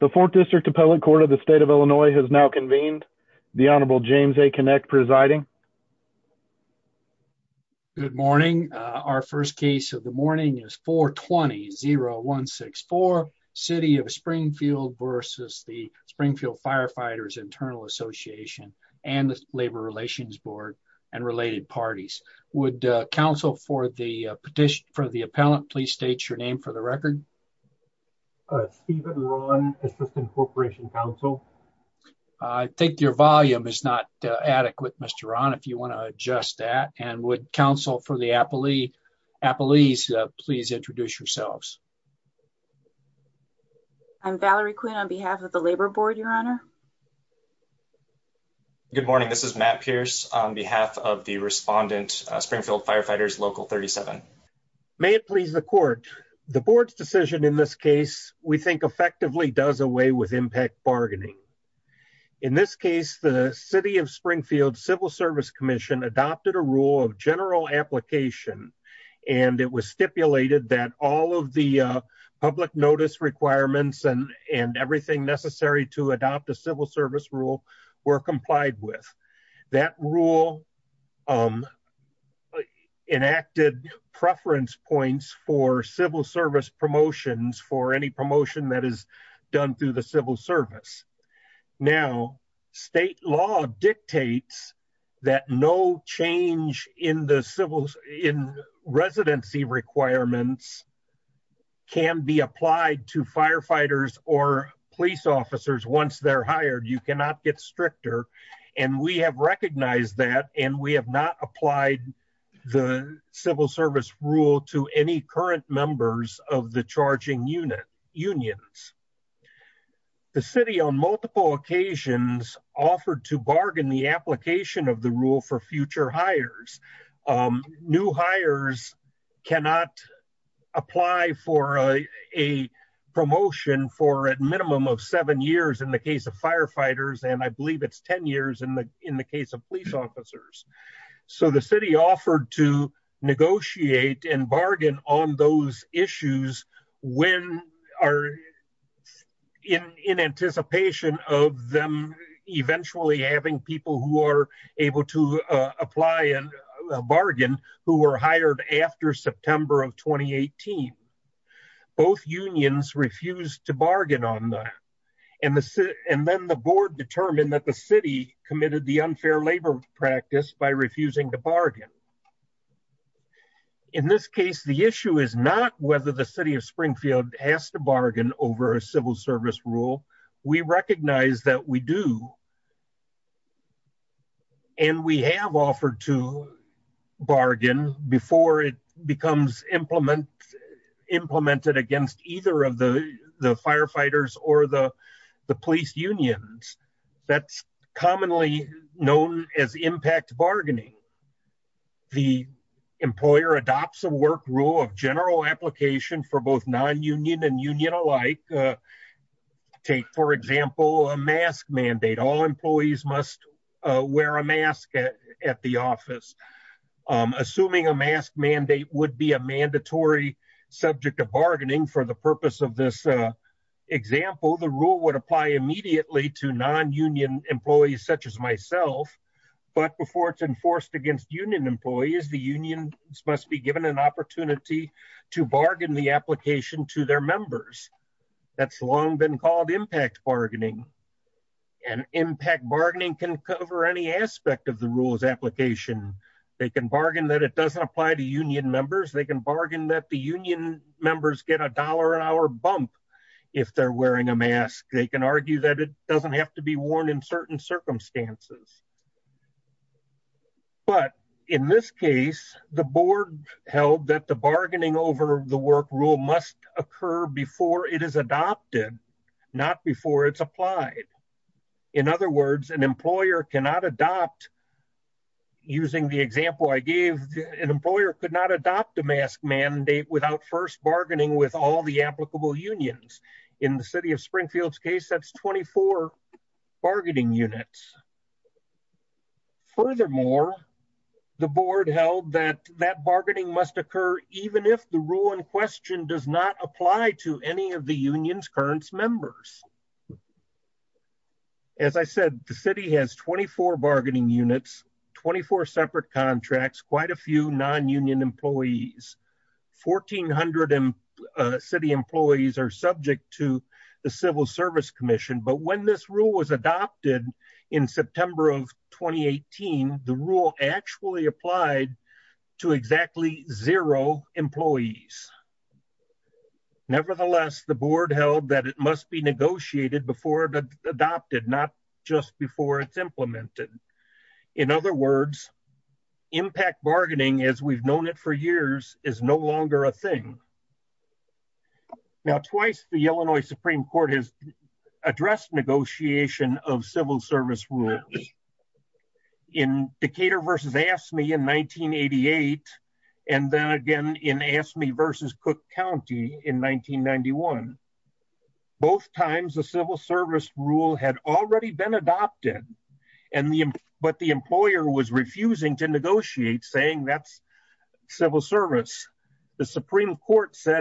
The 4th District Appellate Court of the State of Illinois has now convened. The Honorable James A. Kinect presiding. Good morning. Our first case of the morning is 420-0164, City of Springfield versus the Springfield Firefighters Internal Association and the Labor Relations Board and related parties. Would counsel for the petition for the appellant please state your name for the record? Stephen Ron, Assistant Corporation Counsel. I think your volume is not adequate, Mr. Ron, if you want to adjust that. And would counsel for the appellees please introduce yourselves? I'm Valerie Quinn on behalf of the Labor Board, Your Honor. Good morning, this is Matt Pierce on behalf of the respondent, Springfield Firefighters Local 37. May it please the court, the board's decision in this case we think effectively does away with impact bargaining. In this case, the City of Springfield Civil Service Commission adopted a rule of general application and it was stipulated that all of the public notice requirements and everything necessary to adopt a civil service rule were complied with. That rule enacted preference points for civil service promotions for any promotion that is done through the civil service. Now, state law dictates that no change in the civil in residency requirements can be applied to firefighters or police officers once they're hired. You cannot get stricter and we have recognized that and we have not applied the civil service rule to any current members of the charging unit unions. The city on multiple occasions offered to bargain the application of the rule for future hires. New hires cannot apply for a promotion for at minimum of seven years in the case of firefighters and I believe it's 10 years in the in the case of police officers. So the city offered to negotiate and bargain on those issues when are in in anticipation of them eventually having people who are able to apply and bargain who were hired after September of 2018. Both unions refused to bargain on that and then the board determined that the city committed the unfair labor practice by refusing to bargain. In this case, the issue is not whether the city of Springfield has to bargain over a civil service rule. We recognize that we do and we have offered to bargain before it becomes implemented against either of the the firefighters or the the police unions. That's commonly known as impact bargaining. The employer adopts a work rule of general application for both non-union and union alike. Take for example a mask mandate. All employees must wear a mask at the office. Assuming a mask mandate would be a mandatory subject of bargaining for the purpose of this example, the rule would apply immediately to non-union employees such as myself. But before it's enforced against union employees, the unions must be given an opportunity to bargain the application to their members. That's long been called impact bargaining and impact bargaining can cover any aspect of the rules application. They can bargain that it doesn't apply to union members. They can bargain that the union members get a dollar an hour bump if they're wearing a mask. They can argue that it doesn't have to be worn in certain circumstances. But in this case, the board held that the bargaining over the work rule must occur before it is adopted, not before it's applied. In other words, an employer cannot adopt using the example I gave, an employer could not adopt a mask mandate without first bargaining with all the applicable unions. In the city of Springfield's case, that's 24 bargaining units. Furthermore, the board held that that bargaining must occur even if the rule in question does not apply to any of the union's current members. As I said, the city has 24 bargaining units, 24 separate contracts, quite a few non-union employees. 1,400 city employees are subject to civil service commission. But when this rule was adopted in September of 2018, the rule actually applied to exactly zero employees. Nevertheless, the board held that it must be negotiated before it's adopted, not just before it's implemented. In other words, impact bargaining as we've known it for years is no longer a thing. Now, twice the Illinois Supreme Court has addressed negotiation of civil service rules. In Decatur versus AFSCME in 1988, and then again in AFSCME versus Cook County in 1991. Both times, the civil service rule had already been adopted, but the employer was refusing to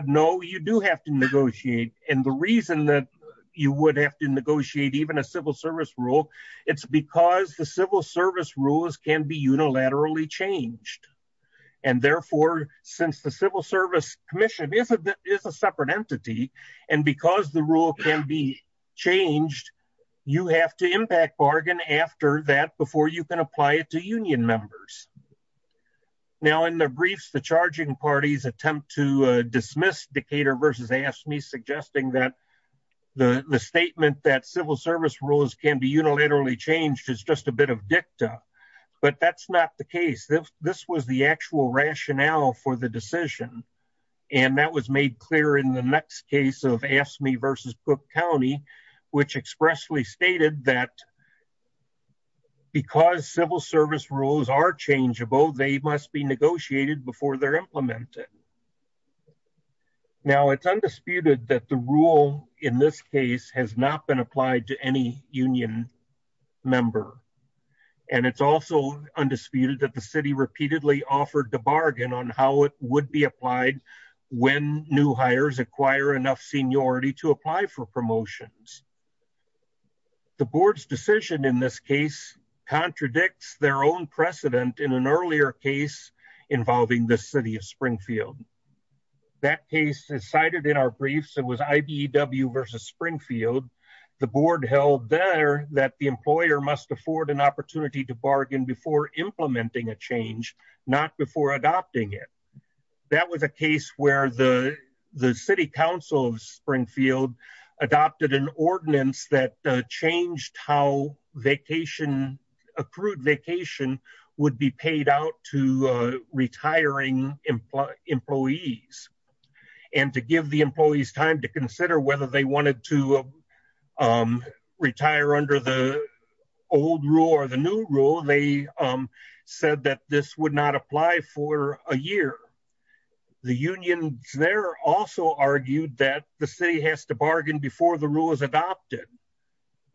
no, you do have to negotiate. And the reason that you would have to negotiate even a civil service rule, it's because the civil service rules can be unilaterally changed. And therefore, since the civil service commission is a separate entity, and because the rule can be changed, you have to impact bargain after that before you can apply it to union members. Now in the briefs, the charging parties attempt to dismiss Decatur versus AFSCME suggesting that the statement that civil service rules can be unilaterally changed is just a bit of dicta, but that's not the case. This was the actual rationale for the decision. And that was made clear in the next case of AFSCME versus Cook County, which expressly stated that because civil service rules are changeable, they must be negotiated before they're implemented. Now it's undisputed that the rule in this case has not been applied to any union member. And it's also undisputed that the city repeatedly offered the bargain on how it would be applied when new hires acquire enough seniority to apply for promotions. The board's decision in this case contradicts their own precedent in an earlier case involving the city of Springfield. That case is cited in our briefs. It was IBEW versus Springfield. The board held there that the employer must afford an opportunity to bargain before implementing a change, not before adopting it. That was a case where the city council of Springfield adopted an ordinance that changed how accrued vacation would be paid out to retiring employees. And to give the employees time to consider whether they wanted to retire under the old rule or the new rule, they said that this would not apply for a year. The unions there also argued that the city has to bargain before the rule is adopted.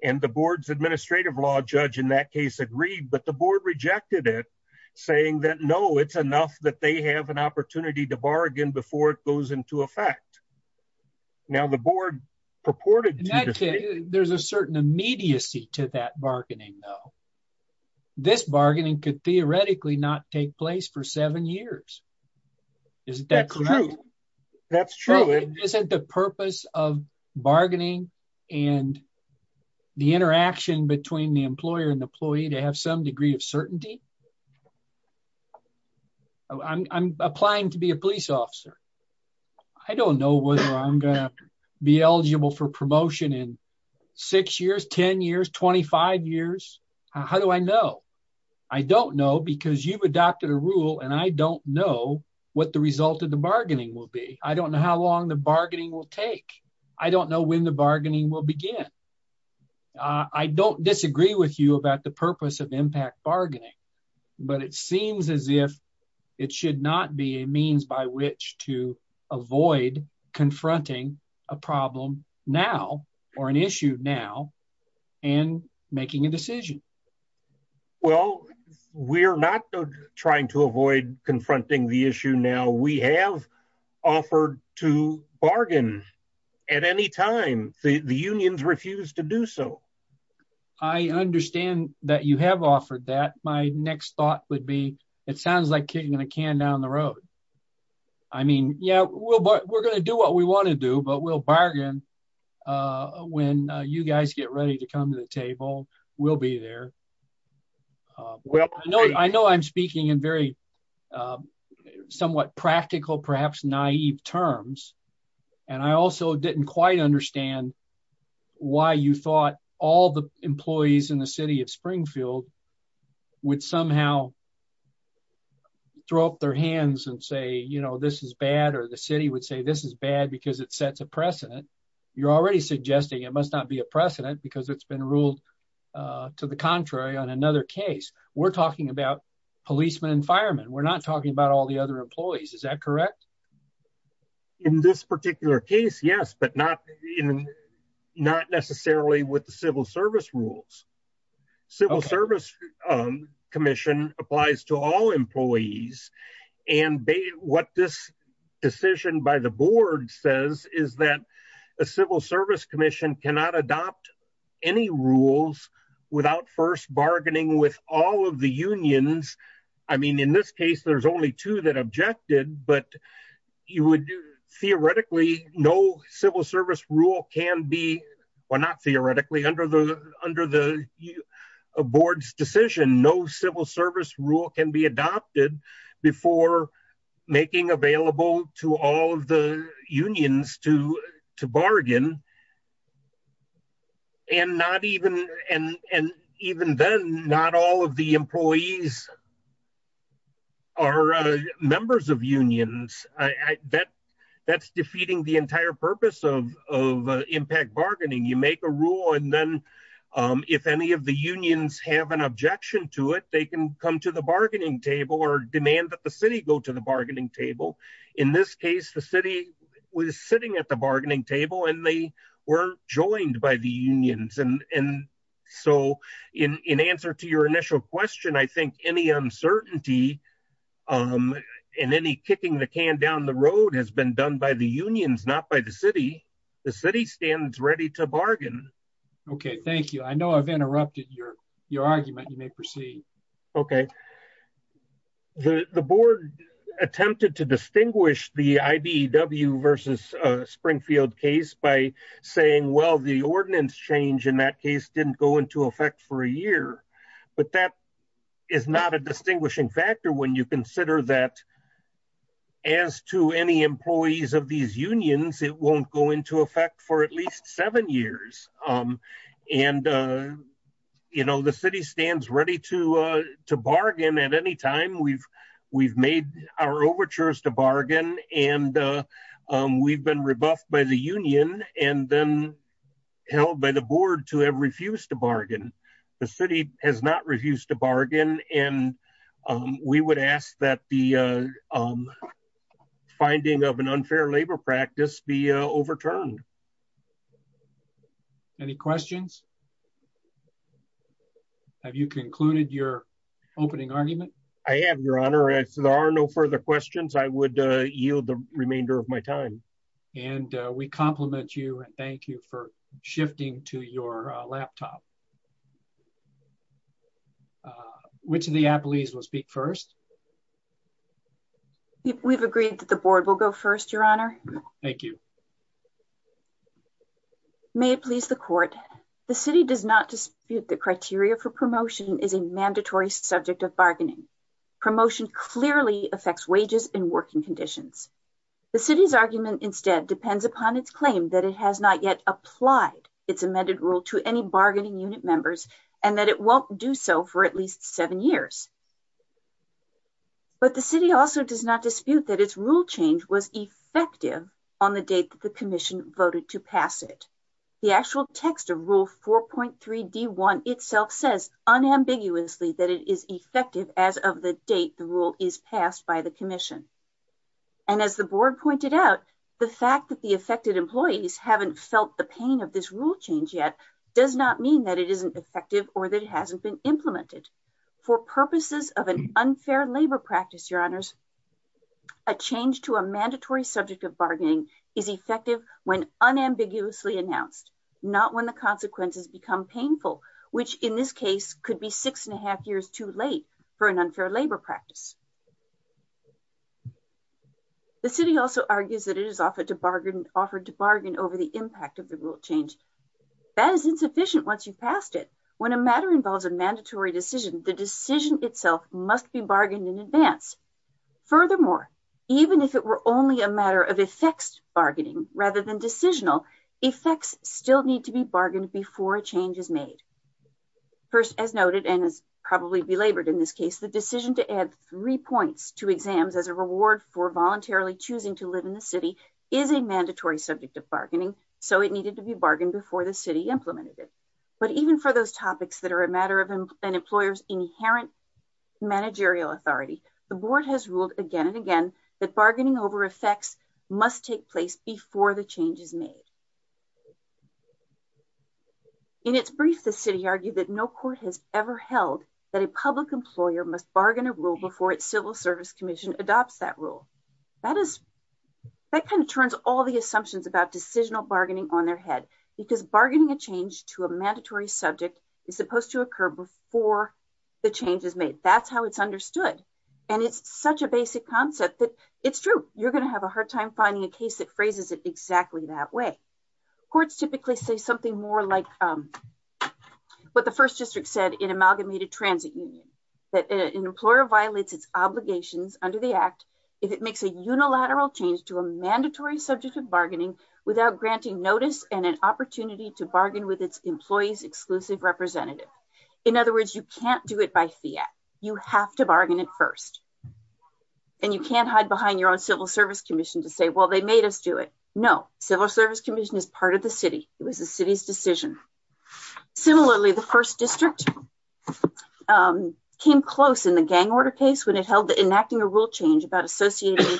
And the board's administrative law judge in that case agreed, but the board rejected it saying that no, it's enough that they have an opportunity to bargain before it goes into effect. Now the board purported to- In that case, there's a certain immediacy to that bargaining though. This bargaining could theoretically not take place for seven years. Isn't that correct? That's true. But isn't the purpose of bargaining and the interaction between the employer and employee to have some degree of certainty? I'm applying to be a police officer. I don't know whether I'm going to be eligible for promotion in six years, 10 years, 25 years. How do I know? I don't know because you've adopted a rule and I don't know what the result of the bargaining will be. I don't know how long the bargaining will take. I don't know when the bargaining will begin. I don't disagree with you about the purpose of impact bargaining, but it seems as if it should not be a means by which to avoid confronting a problem now or an issue now and making a decision. Well, we're not trying to avoid confronting the issue now. We have offered to bargain at any time. The unions refuse to do so. I understand that you have offered that. My next thought would be, it sounds like kicking a can down the road. I mean, yeah, we're going to do what we want to do, but we'll bargain when you guys get ready to come to the table. We'll be there. I know I'm speaking in very somewhat practical, perhaps naive terms, and I also didn't quite understand why you thought all the employees in the city of Springfield would somehow throw up their hands and say, you know, this is bad or the city would say this is bad because it sets a precedent. You're already suggesting it must not be a precedent because it's been ruled to the contrary on another case. We're talking about policemen and firemen. We're not talking about all the other employees. Is that correct? In this particular case, yes, but not necessarily with the civil service rules. Civil service commission applies to all employees and what this decision by the board says is that a civil service commission cannot adopt any rules without first bargaining with all of the unions. I mean, in this case, there's only two that objected, but theoretically, no civil service rule can be, well not theoretically, under the board's decision, no civil service rule can be adopted before making available to all of the unions to bargain. And not even, and even then, not all of the employees are members of unions. That's defeating the entire purpose of impact bargaining. You make a rule and then if any of the unions have an objection to it, they can come to the bargaining table or demand that the city go to the bargaining table. In this case, the city was sitting at the bargaining table and they were joined by the unions. And so in answer to your initial question, I think any uncertainty and any kicking the can down the road has been done by the unions, not by the city. The city stands ready to bargain. Okay. Thank you. I know I've interrupted your argument. You may proceed. Okay. The board attempted to distinguish the IBEW versus Springfield case by saying, well, the ordinance change in that case didn't go into effect for a year, but that is not a distinguishing factor when you consider that as to any employees of these unions, it won't go into effect for at least seven years. And, you know, the city stands ready to bargain at any time. We've made our overtures to bargain and we've been rebuffed by the union and then held by the board to have refused to bargain. The city has not refused to bargain. And we would ask that the finding of an unfair labor practice be overturned. Any questions? Have you concluded your opening argument? I have your honor. If there are no further questions, I would yield the remainder of my time. And we compliment you and thank you for the opportunity. Which of the employees will speak first? We've agreed that the board will go first, your honor. Thank you. May it please the court. The city does not dispute the criteria for promotion is a mandatory subject of bargaining. Promotion clearly affects wages and working conditions. The city's argument instead depends upon its claim that it has not yet applied its amended rule to any bargaining unit members and that it won't do so for at least seven years. But the city also does not dispute that its rule change was effective on the date that the commission voted to pass it. The actual text of rule 4.3D1 itself says unambiguously that it is effective as of the date the rule is passed by the commission. And as the board pointed out, the fact that the affected employees haven't felt the pain of this rule change yet does not mean that it isn't effective or that it hasn't been implemented. For purposes of an unfair labor practice, your honors, a change to a mandatory subject of bargaining is effective when unambiguously announced, not when the consequences become painful, which in this case could be six and a half years too late for an unfair labor practice. The city also argues that it is offered to bargain over the impact of the rule change. That is insufficient once you've passed it. When a matter involves a mandatory decision, the decision itself must be bargained in advance. Furthermore, even if it were only a matter of effects bargaining rather than decisional, effects still need to be bargained before a change is made. First, as noted, and as probably belabored in this case, the decision to add three years to exams as a reward for voluntarily choosing to live in the city is a mandatory subject of bargaining, so it needed to be bargained before the city implemented it. But even for those topics that are a matter of an employer's inherent managerial authority, the board has ruled again and again that bargaining over effects must take place before the change is made. In its brief, the city argued that no court has ever held that a public employer must bargain a rule before its civil service commission adopts that rule. That kind of turns all the assumptions about decisional bargaining on their head, because bargaining a change to a mandatory subject is supposed to occur before the change is made. That's how it's understood, and it's such a basic concept that it's true. You're going to have a hard time finding a case that phrases it exactly that way. Courts typically say something more like what the first district said in Amalgamated Transit Union, that an employer violates its obligations under the act if it makes a unilateral change to a mandatory subject of bargaining without granting notice and an opportunity to bargain with its employee's exclusive representative. In other words, you can't do it by fiat. You have to bargain it first, and you can't hide behind your own civil service commission to say, well, they made us do it. No, civil service commission is part of the city. It was the city's district. It came close in the gang order case when it held that enacting a rule change about associating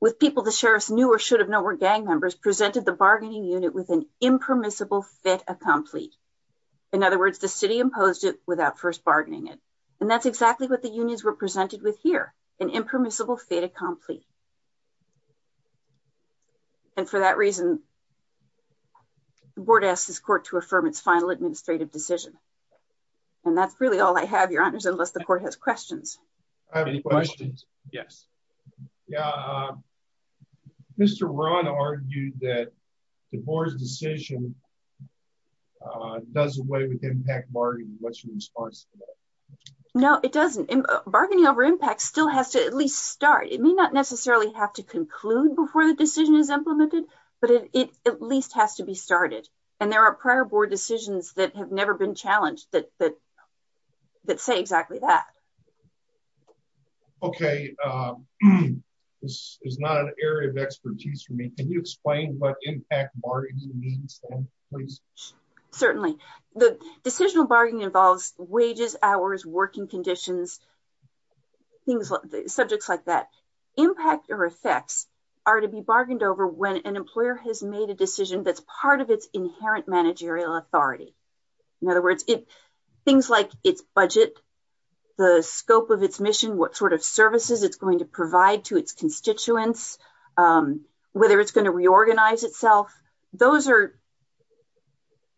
with people the sheriff's knew or should have known were gang members presented the bargaining unit with an impermissible fit a complete. In other words, the city imposed it without first bargaining it, and that's exactly what the unions were presented with here, an impermissible fit a complete. And for that reason, the board asked this court to affirm its final administrative decision. And that's really all I have, your honors, unless the court has questions. I have any questions. Yes. Yeah. Mr. Ron argued that the board's decision does away with impact bargaining. What's your response? No, it doesn't. Bargaining over impact still has to at least start. It may not necessarily have to conclude before the decision is implemented, but it at least has to be started. And there are prior board decisions that have never been challenged that, that, that say exactly that. Okay. This is not an area of expertise for me. Can you explain what impact bargaining means? Certainly the decisional bargaining involves wages, hours, working conditions, things like subjects like that impact or effects are to be bargained over when an employer has made a decision that's part of its inherent managerial authority. In other words, things like its budget, the scope of its mission, what sort of services it's going to provide to its constituents, whether it's going to reorganize itself, those are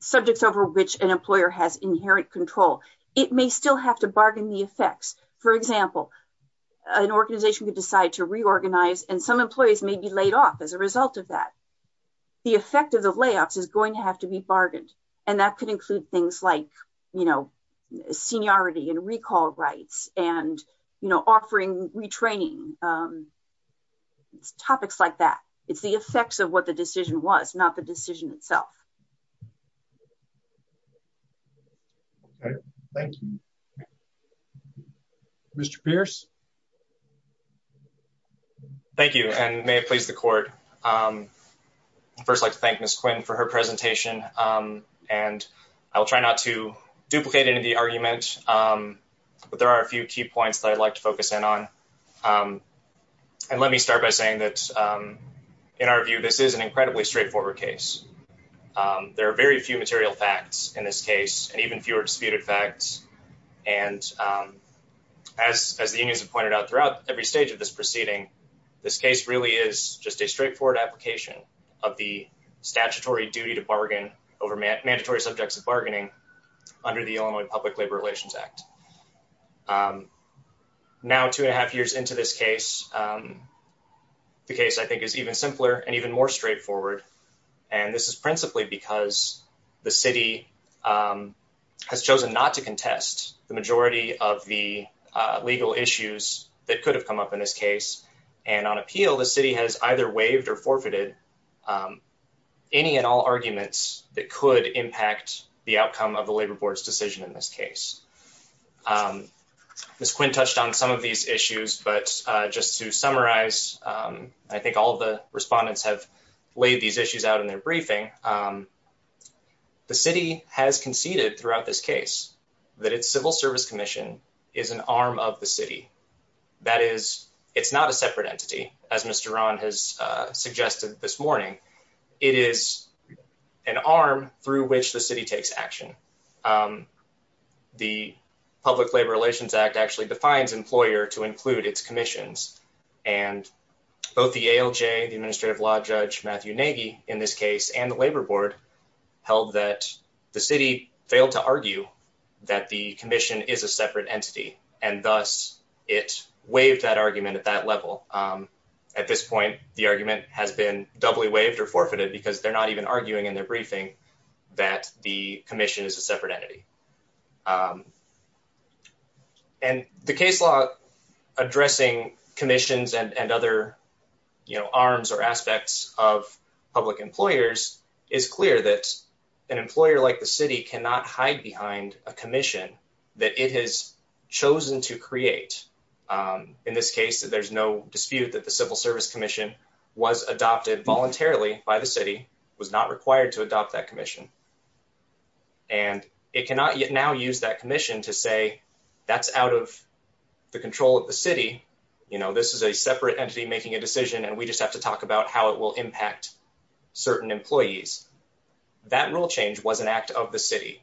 subjects over which an employer has inherent control. It may still have to bargain the effects. For example, an organization could decide to reorganize and some employees may be laid off as a result of that. The effect of the layoffs is going to have to be bargained. And that could include things like, you know, seniority and recall rights and, you know, offering retraining, topics like that. It's the effects of what the decision was, not the decision itself. Okay. Thank you. Mr. Pierce. Thank you and may it please the court. First, I'd like to thank Ms. Quinn for her presentation. And I will try not to duplicate any of the arguments, but there are a few key points that I'd like to focus in on. And let me start by saying that in our view, this is an incredibly straightforward case. There are very few material facts in this case and even fewer disputed facts. And as the unions have pointed out throughout every stage of this proceeding, this case really is just a straightforward application of the statutory duty to bargain over mandatory subjects of bargaining under the Illinois Public Labor Relations Act. Now, two and a half years into this case, the case I think is even simpler and even more straightforward. And this is principally because the city has chosen not to contest the majority of the legal issues that could have come up in this case. And on appeal, the city has either waived or forfeited any and all arguments that could impact the outcome of the labor board's decision in this case. Ms. Quinn touched on some of these issues, but just to summarize, I think all of the respondents have laid these issues out in their briefing. The city has conceded throughout this case that its civil service commission is an arm of the city. That is, it's not a separate entity, as Mr. Rahn has suggested this morning. It is an arm through which the city takes action. The Public Labor Relations Act actually defines employer to include its commissions, and both the ALJ, the administrative law judge Matthew Nagy, in this case, and the labor board held that the city failed to argue that the commission is a separate entity, and thus it waived that argument at that level. At this point, the argument has been doubly waived or forfeited because they're not even arguing in their briefing that the addressing commissions and other arms or aspects of public employers is clear that an employer like the city cannot hide behind a commission that it has chosen to create. In this case, there's no dispute that the civil service commission was adopted voluntarily by the city, was not required to adopt that commission, and it cannot now use that commission to say that's out of the control of the city. You know, this is a separate entity making a decision, and we just have to talk about how it will impact certain employees. That rule change was an act of the city.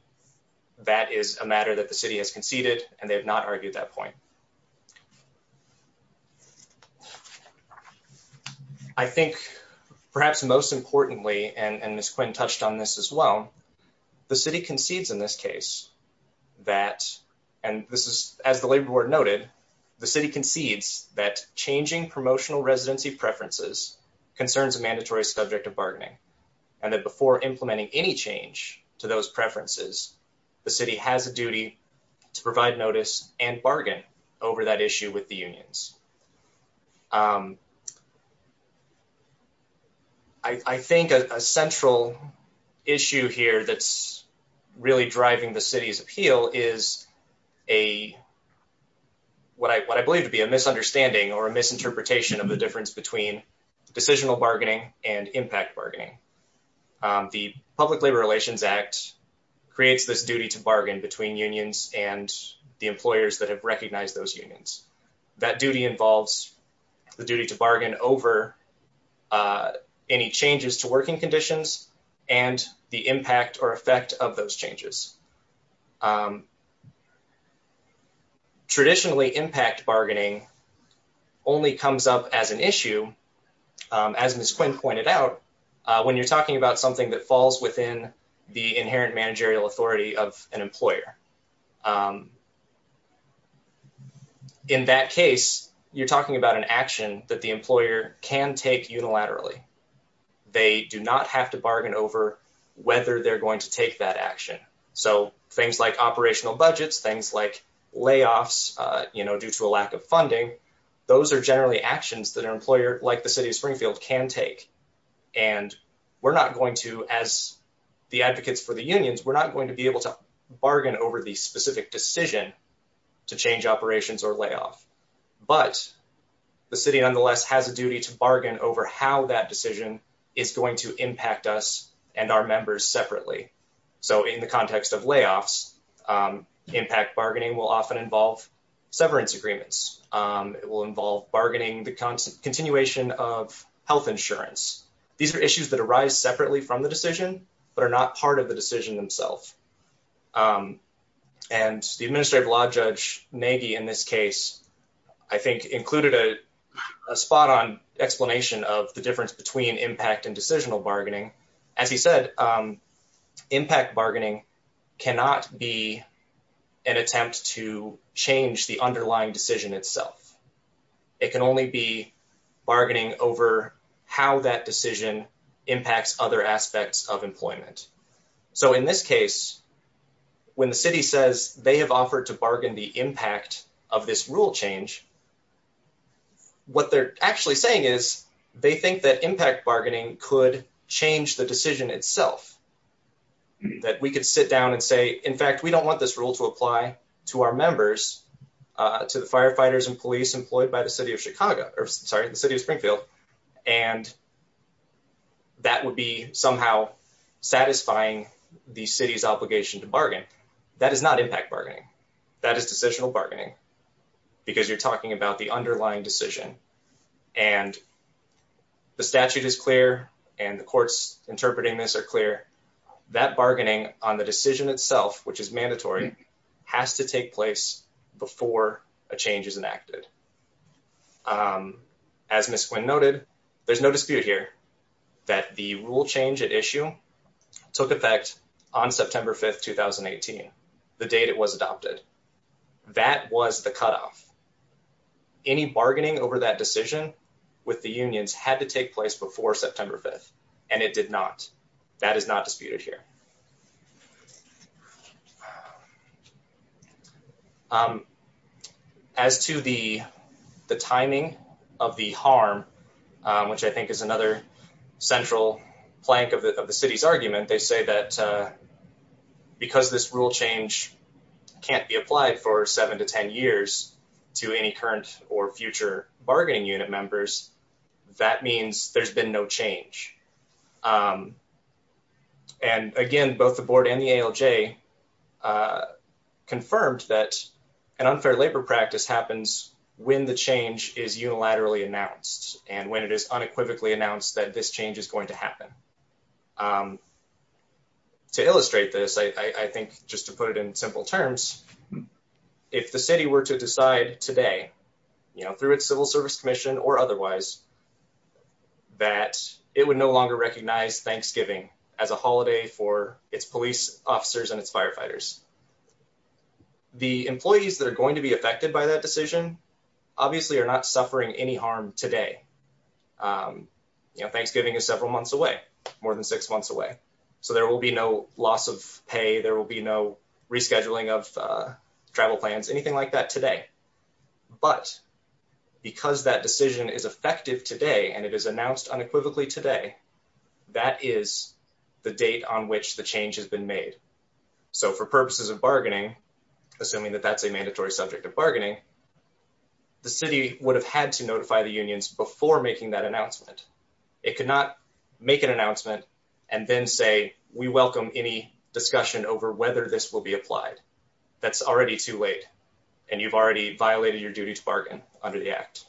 That is a matter that the city has conceded, and they have not argued that point. I think perhaps most importantly, and Ms. Quinn touched on this as well, the city concedes in this case that, and this is as the labor board noted, the city concedes that changing promotional residency preferences concerns a mandatory subject of bargaining, and that before implementing any change to those preferences, the city has a duty to provide notice and bargain over that issue with the unions. I think a central issue here that's really driving the city's appeal is a, what I believe to be a misunderstanding or a misinterpretation of the difference between decisional bargaining and impact bargaining. The Public Labor Relations Act creates this duty to bargain between unions and the employers that have recognized those unions. That duty involves the duty to bargain over any changes to working conditions and the impact or effect of those changes. Traditionally, impact bargaining only comes up as an issue, as Ms. Quinn pointed out, when you're talking about something that falls within the inherent managerial authority of an employer. In that case, you're talking about an action that the employer can take unilaterally. They do not have to bargain over whether they're going to take that action. So, things like operational budgets, things like layoffs due to a lack of funding, those are generally actions that an employer like the city of Springfield can take, and we're not going to, as the advocates for the unions, we're not going to be able to bargain over the specific decision to change operations or layoff. But the city, nonetheless, has a duty to bargain over how that decision is going to impact us and our members separately. So, in the context of layoffs, impact bargaining will often involve severance agreements. It will involve bargaining the continuation of health insurance. These are issues that arise separately from the decision, but are not part of the decision themselves. And the administrative law judge, Nagy, in this case, I think included a spot-on explanation of the difference between impact and decisional bargaining. As he said, impact bargaining cannot be an attempt to change the underlying decision itself. It can only be bargaining over how that decision impacts other aspects of employment. So, in this case, when the city says they have offered to bargain the impact of this rule change, what they're actually saying is they think that impact bargaining could change the decision itself. That we could sit down and say, in fact, we don't want this rule to apply to our members, to the firefighters and police employed by the city of Chicago, sorry, the city of Springfield, and that would be somehow satisfying the city's obligation to bargain. That is not impact bargaining. That is decisional bargaining, because you're talking about the underlying decision. And the statute is clear, and the courts interpreting this are clear. That bargaining on the decision itself, which is mandatory, has to take place before a change is enacted. As Ms. Quinn noted, there's no dispute here that the rule change at issue took effect on September 5th, 2018, the date it was adopted. That was the cutoff. Any bargaining over that decision with the unions had to take place before September 5th, and it did not. That is not a dispute. As to the timing of the harm, which I think is another central plank of the city's argument, they say that because this rule change can't be applied for seven to 10 years to any current or future bargaining unit members, that means there's been no change. And again, both the board and the ALJ confirmed that an unfair labor practice happens when the change is unilaterally announced and when it is unequivocally announced that this change is going to happen. To illustrate this, I think just to put it in simple terms, if the city were to decide today, you know, through its civil service commission or otherwise, that it would no longer recognize Thanksgiving as a holiday for its police officers and its firefighters, the employees that are going to be affected by that decision obviously are not suffering any harm today. You know, Thanksgiving is several months away, more than six months away. So there will be no loss of pay. There will be no rescheduling of travel plans, anything like that today. But because that decision is effective today and it is announced unequivocally today, that is the date on which the change has been made. So for purposes of bargaining, assuming that that's a mandatory subject of bargaining, the city would have had to notify the unions before making that announcement. It could not make an announcement and then say, we welcome any discussion over whether this will be applied. That's already too late and you've already violated your duty to bargain under the act.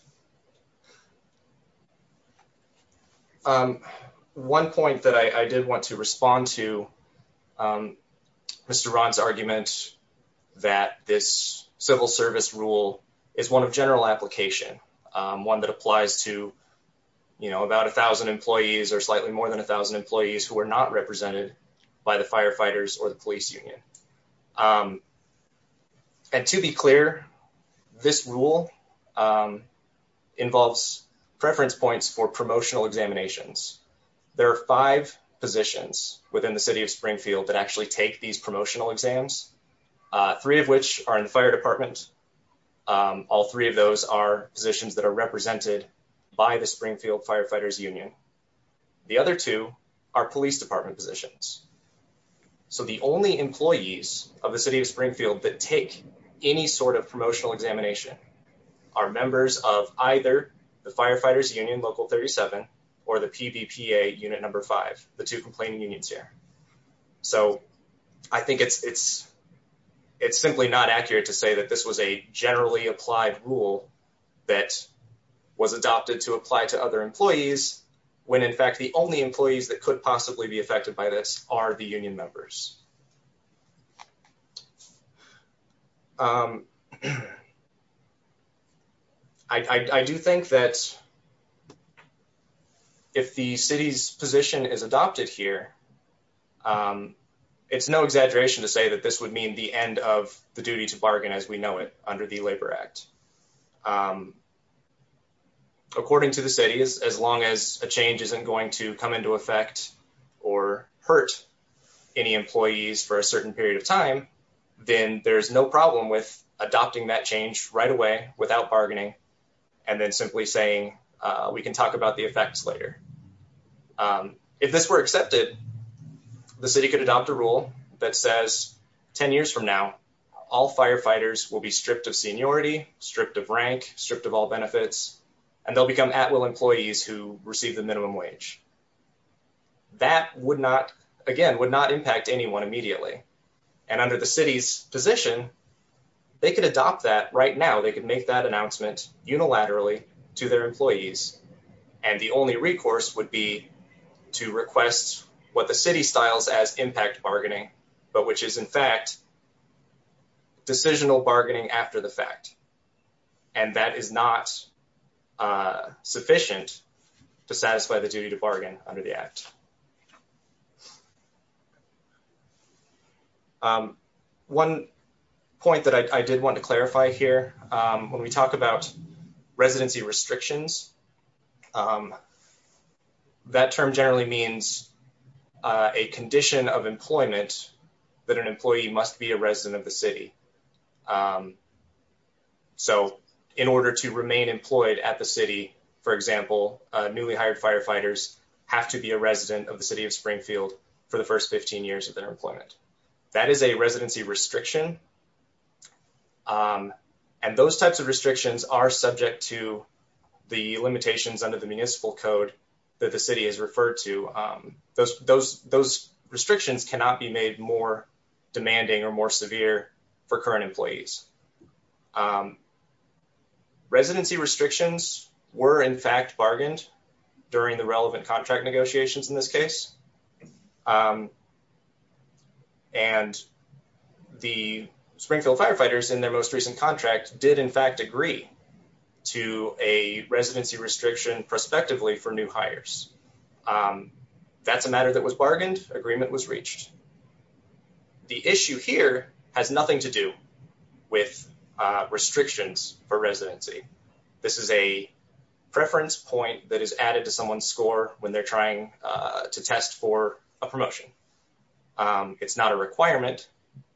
One point that I did want to respond to, Mr. Rahn's argument that this civil service rule is one of general application, one that applies to, you know, about a thousand employees or not represented by the firefighters or the police union. And to be clear, this rule involves preference points for promotional examinations. There are five positions within the city of Springfield that actually take these promotional exams, three of which are in the fire department. All three of those are positions that are represented by the Springfield Firefighters Union. The other two are police department positions. So the only employees of the city of Springfield that take any sort of promotional examination are members of either the Firefighters Union Local 37 or the PVPA Unit Number 5, the two complaining unions here. So I think it's simply not accurate to say that this was a generally applied rule that was adopted to when in fact the only employees that could possibly be affected by this are the union members. I do think that if the city's position is adopted here, it's no exaggeration to say that this would mean the end of the duty to bargain as we know it under the Labor Act. According to the city, as long as a change isn't going to come into effect or hurt any employees for a certain period of time, then there's no problem with adopting that change right away without bargaining and then simply saying we can talk about the effects later. If this were accepted, the city could adopt a rule that says 10 years from now all firefighters will be stripped of seniority, stripped of rank, stripped of all benefits, and they'll become at-will employees who receive the minimum wage. That again would not impact anyone immediately and under the city's position, they could adopt that right now. They could make that announcement unilaterally to their employees and the only recourse would be to request what the city styles as impact bargaining, but which is in fact decisional bargaining after the fact. And that is not sufficient to satisfy the duty to bargain under the Act. One point that I did want to clarify here when we talk about residency restrictions, that term generally means a condition of employment that an employee must be a resident of the city. So in order to remain employed at the city, for example, newly hired firefighters have to be a resident of the city of Springfield for the first 15 years of their employment. That is a residency restriction, and those types of restrictions are subject to the limitations under the municipal code that the city has referred to. Those restrictions cannot be made more demanding or more severe for current employees. Residency restrictions were in fact and the Springfield firefighters in their most recent contract did in fact agree to a residency restriction prospectively for new hires. That's a matter that was bargained, agreement was reached. The issue here has nothing to do with restrictions for residency. This is a preference point that is added to someone's score when they're trying to test for a promotion. It's not a requirement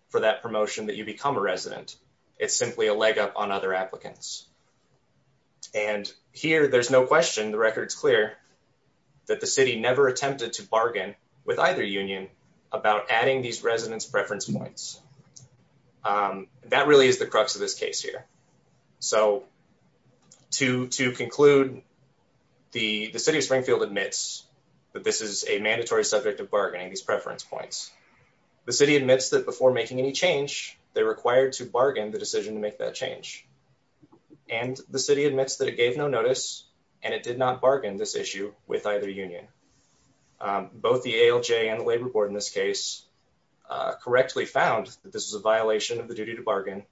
for that promotion that you become a resident. It's simply a leg up on other applicants. And here there's no question, the record's clear, that the city never attempted to bargain with either union about adding these residents preference points. That really is the crux of this case here. So to conclude, the city of Springfield admits that this is a mandatory subject of bargaining, these preference points. The city admits that before making any change, they're required to bargain the decision to make that change. And the city admits that it gave no notice and it did not bargain this issue with either union. Both the ALJ and the labor board in this case correctly found that this was a violation of the duty to bargain.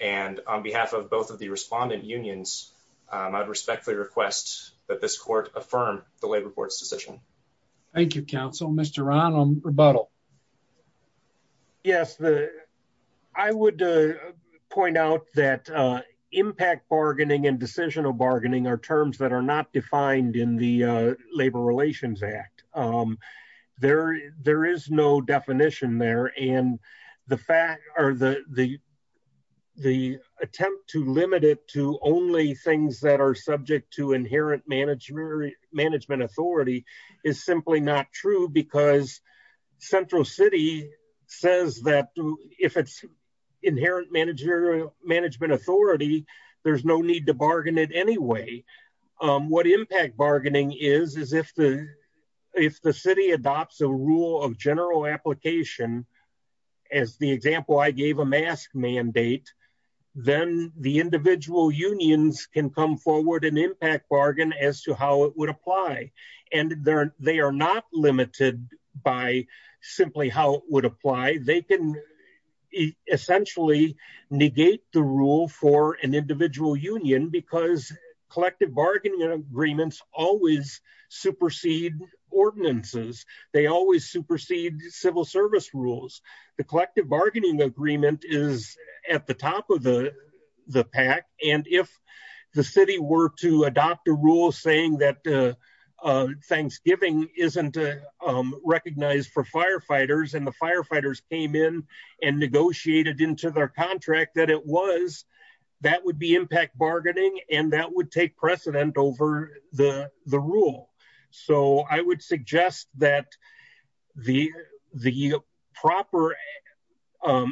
And on behalf of both of the respondent unions, I'd respectfully request that this court affirm the labor board's decision. Thank you, counsel. Mr. Rahn on rebuttal. Yes, I would point out that impact bargaining and decisional bargaining are terms that are not defined in the Labor Relations Act. There is no definition there. And the fact or the attempt to limit it to only things that are subject to is simply not true because Central City says that if it's inherent manager management authority, there's no need to bargain it anyway. What impact bargaining is, is if the if the city adopts a rule of general application, as the example, I gave a mask mandate, then the individual unions can come forward and impact bargain as to how it would apply. And they are not limited by simply how it would apply. They can essentially negate the rule for an individual union because collective bargaining agreements always supersede ordinances. They always supersede civil service rules. The collective bargaining agreement is at the top of the pack. And if the city were to adopt a rule saying that Thanksgiving isn't recognized for firefighters, and the firefighters came in and negotiated into their contract that it was, that would be impact bargaining. And that would take precedent over the the rule. So I would suggest that the the proper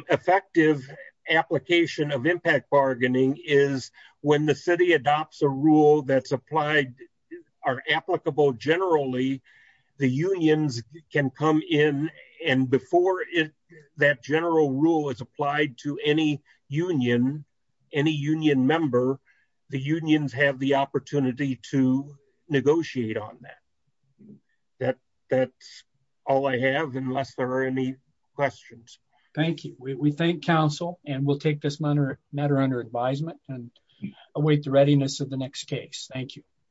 effective application of impact bargaining is when the city adopts a rule that's applied are applicable. Generally, the unions can come in and before that general rule is applied to any union, any union member, the unions have the opportunity to negotiate on that. That's all I have unless there are any questions. Thank you. We thank Council and we'll take this matter under advisement and await the readiness of the next case. Thank you.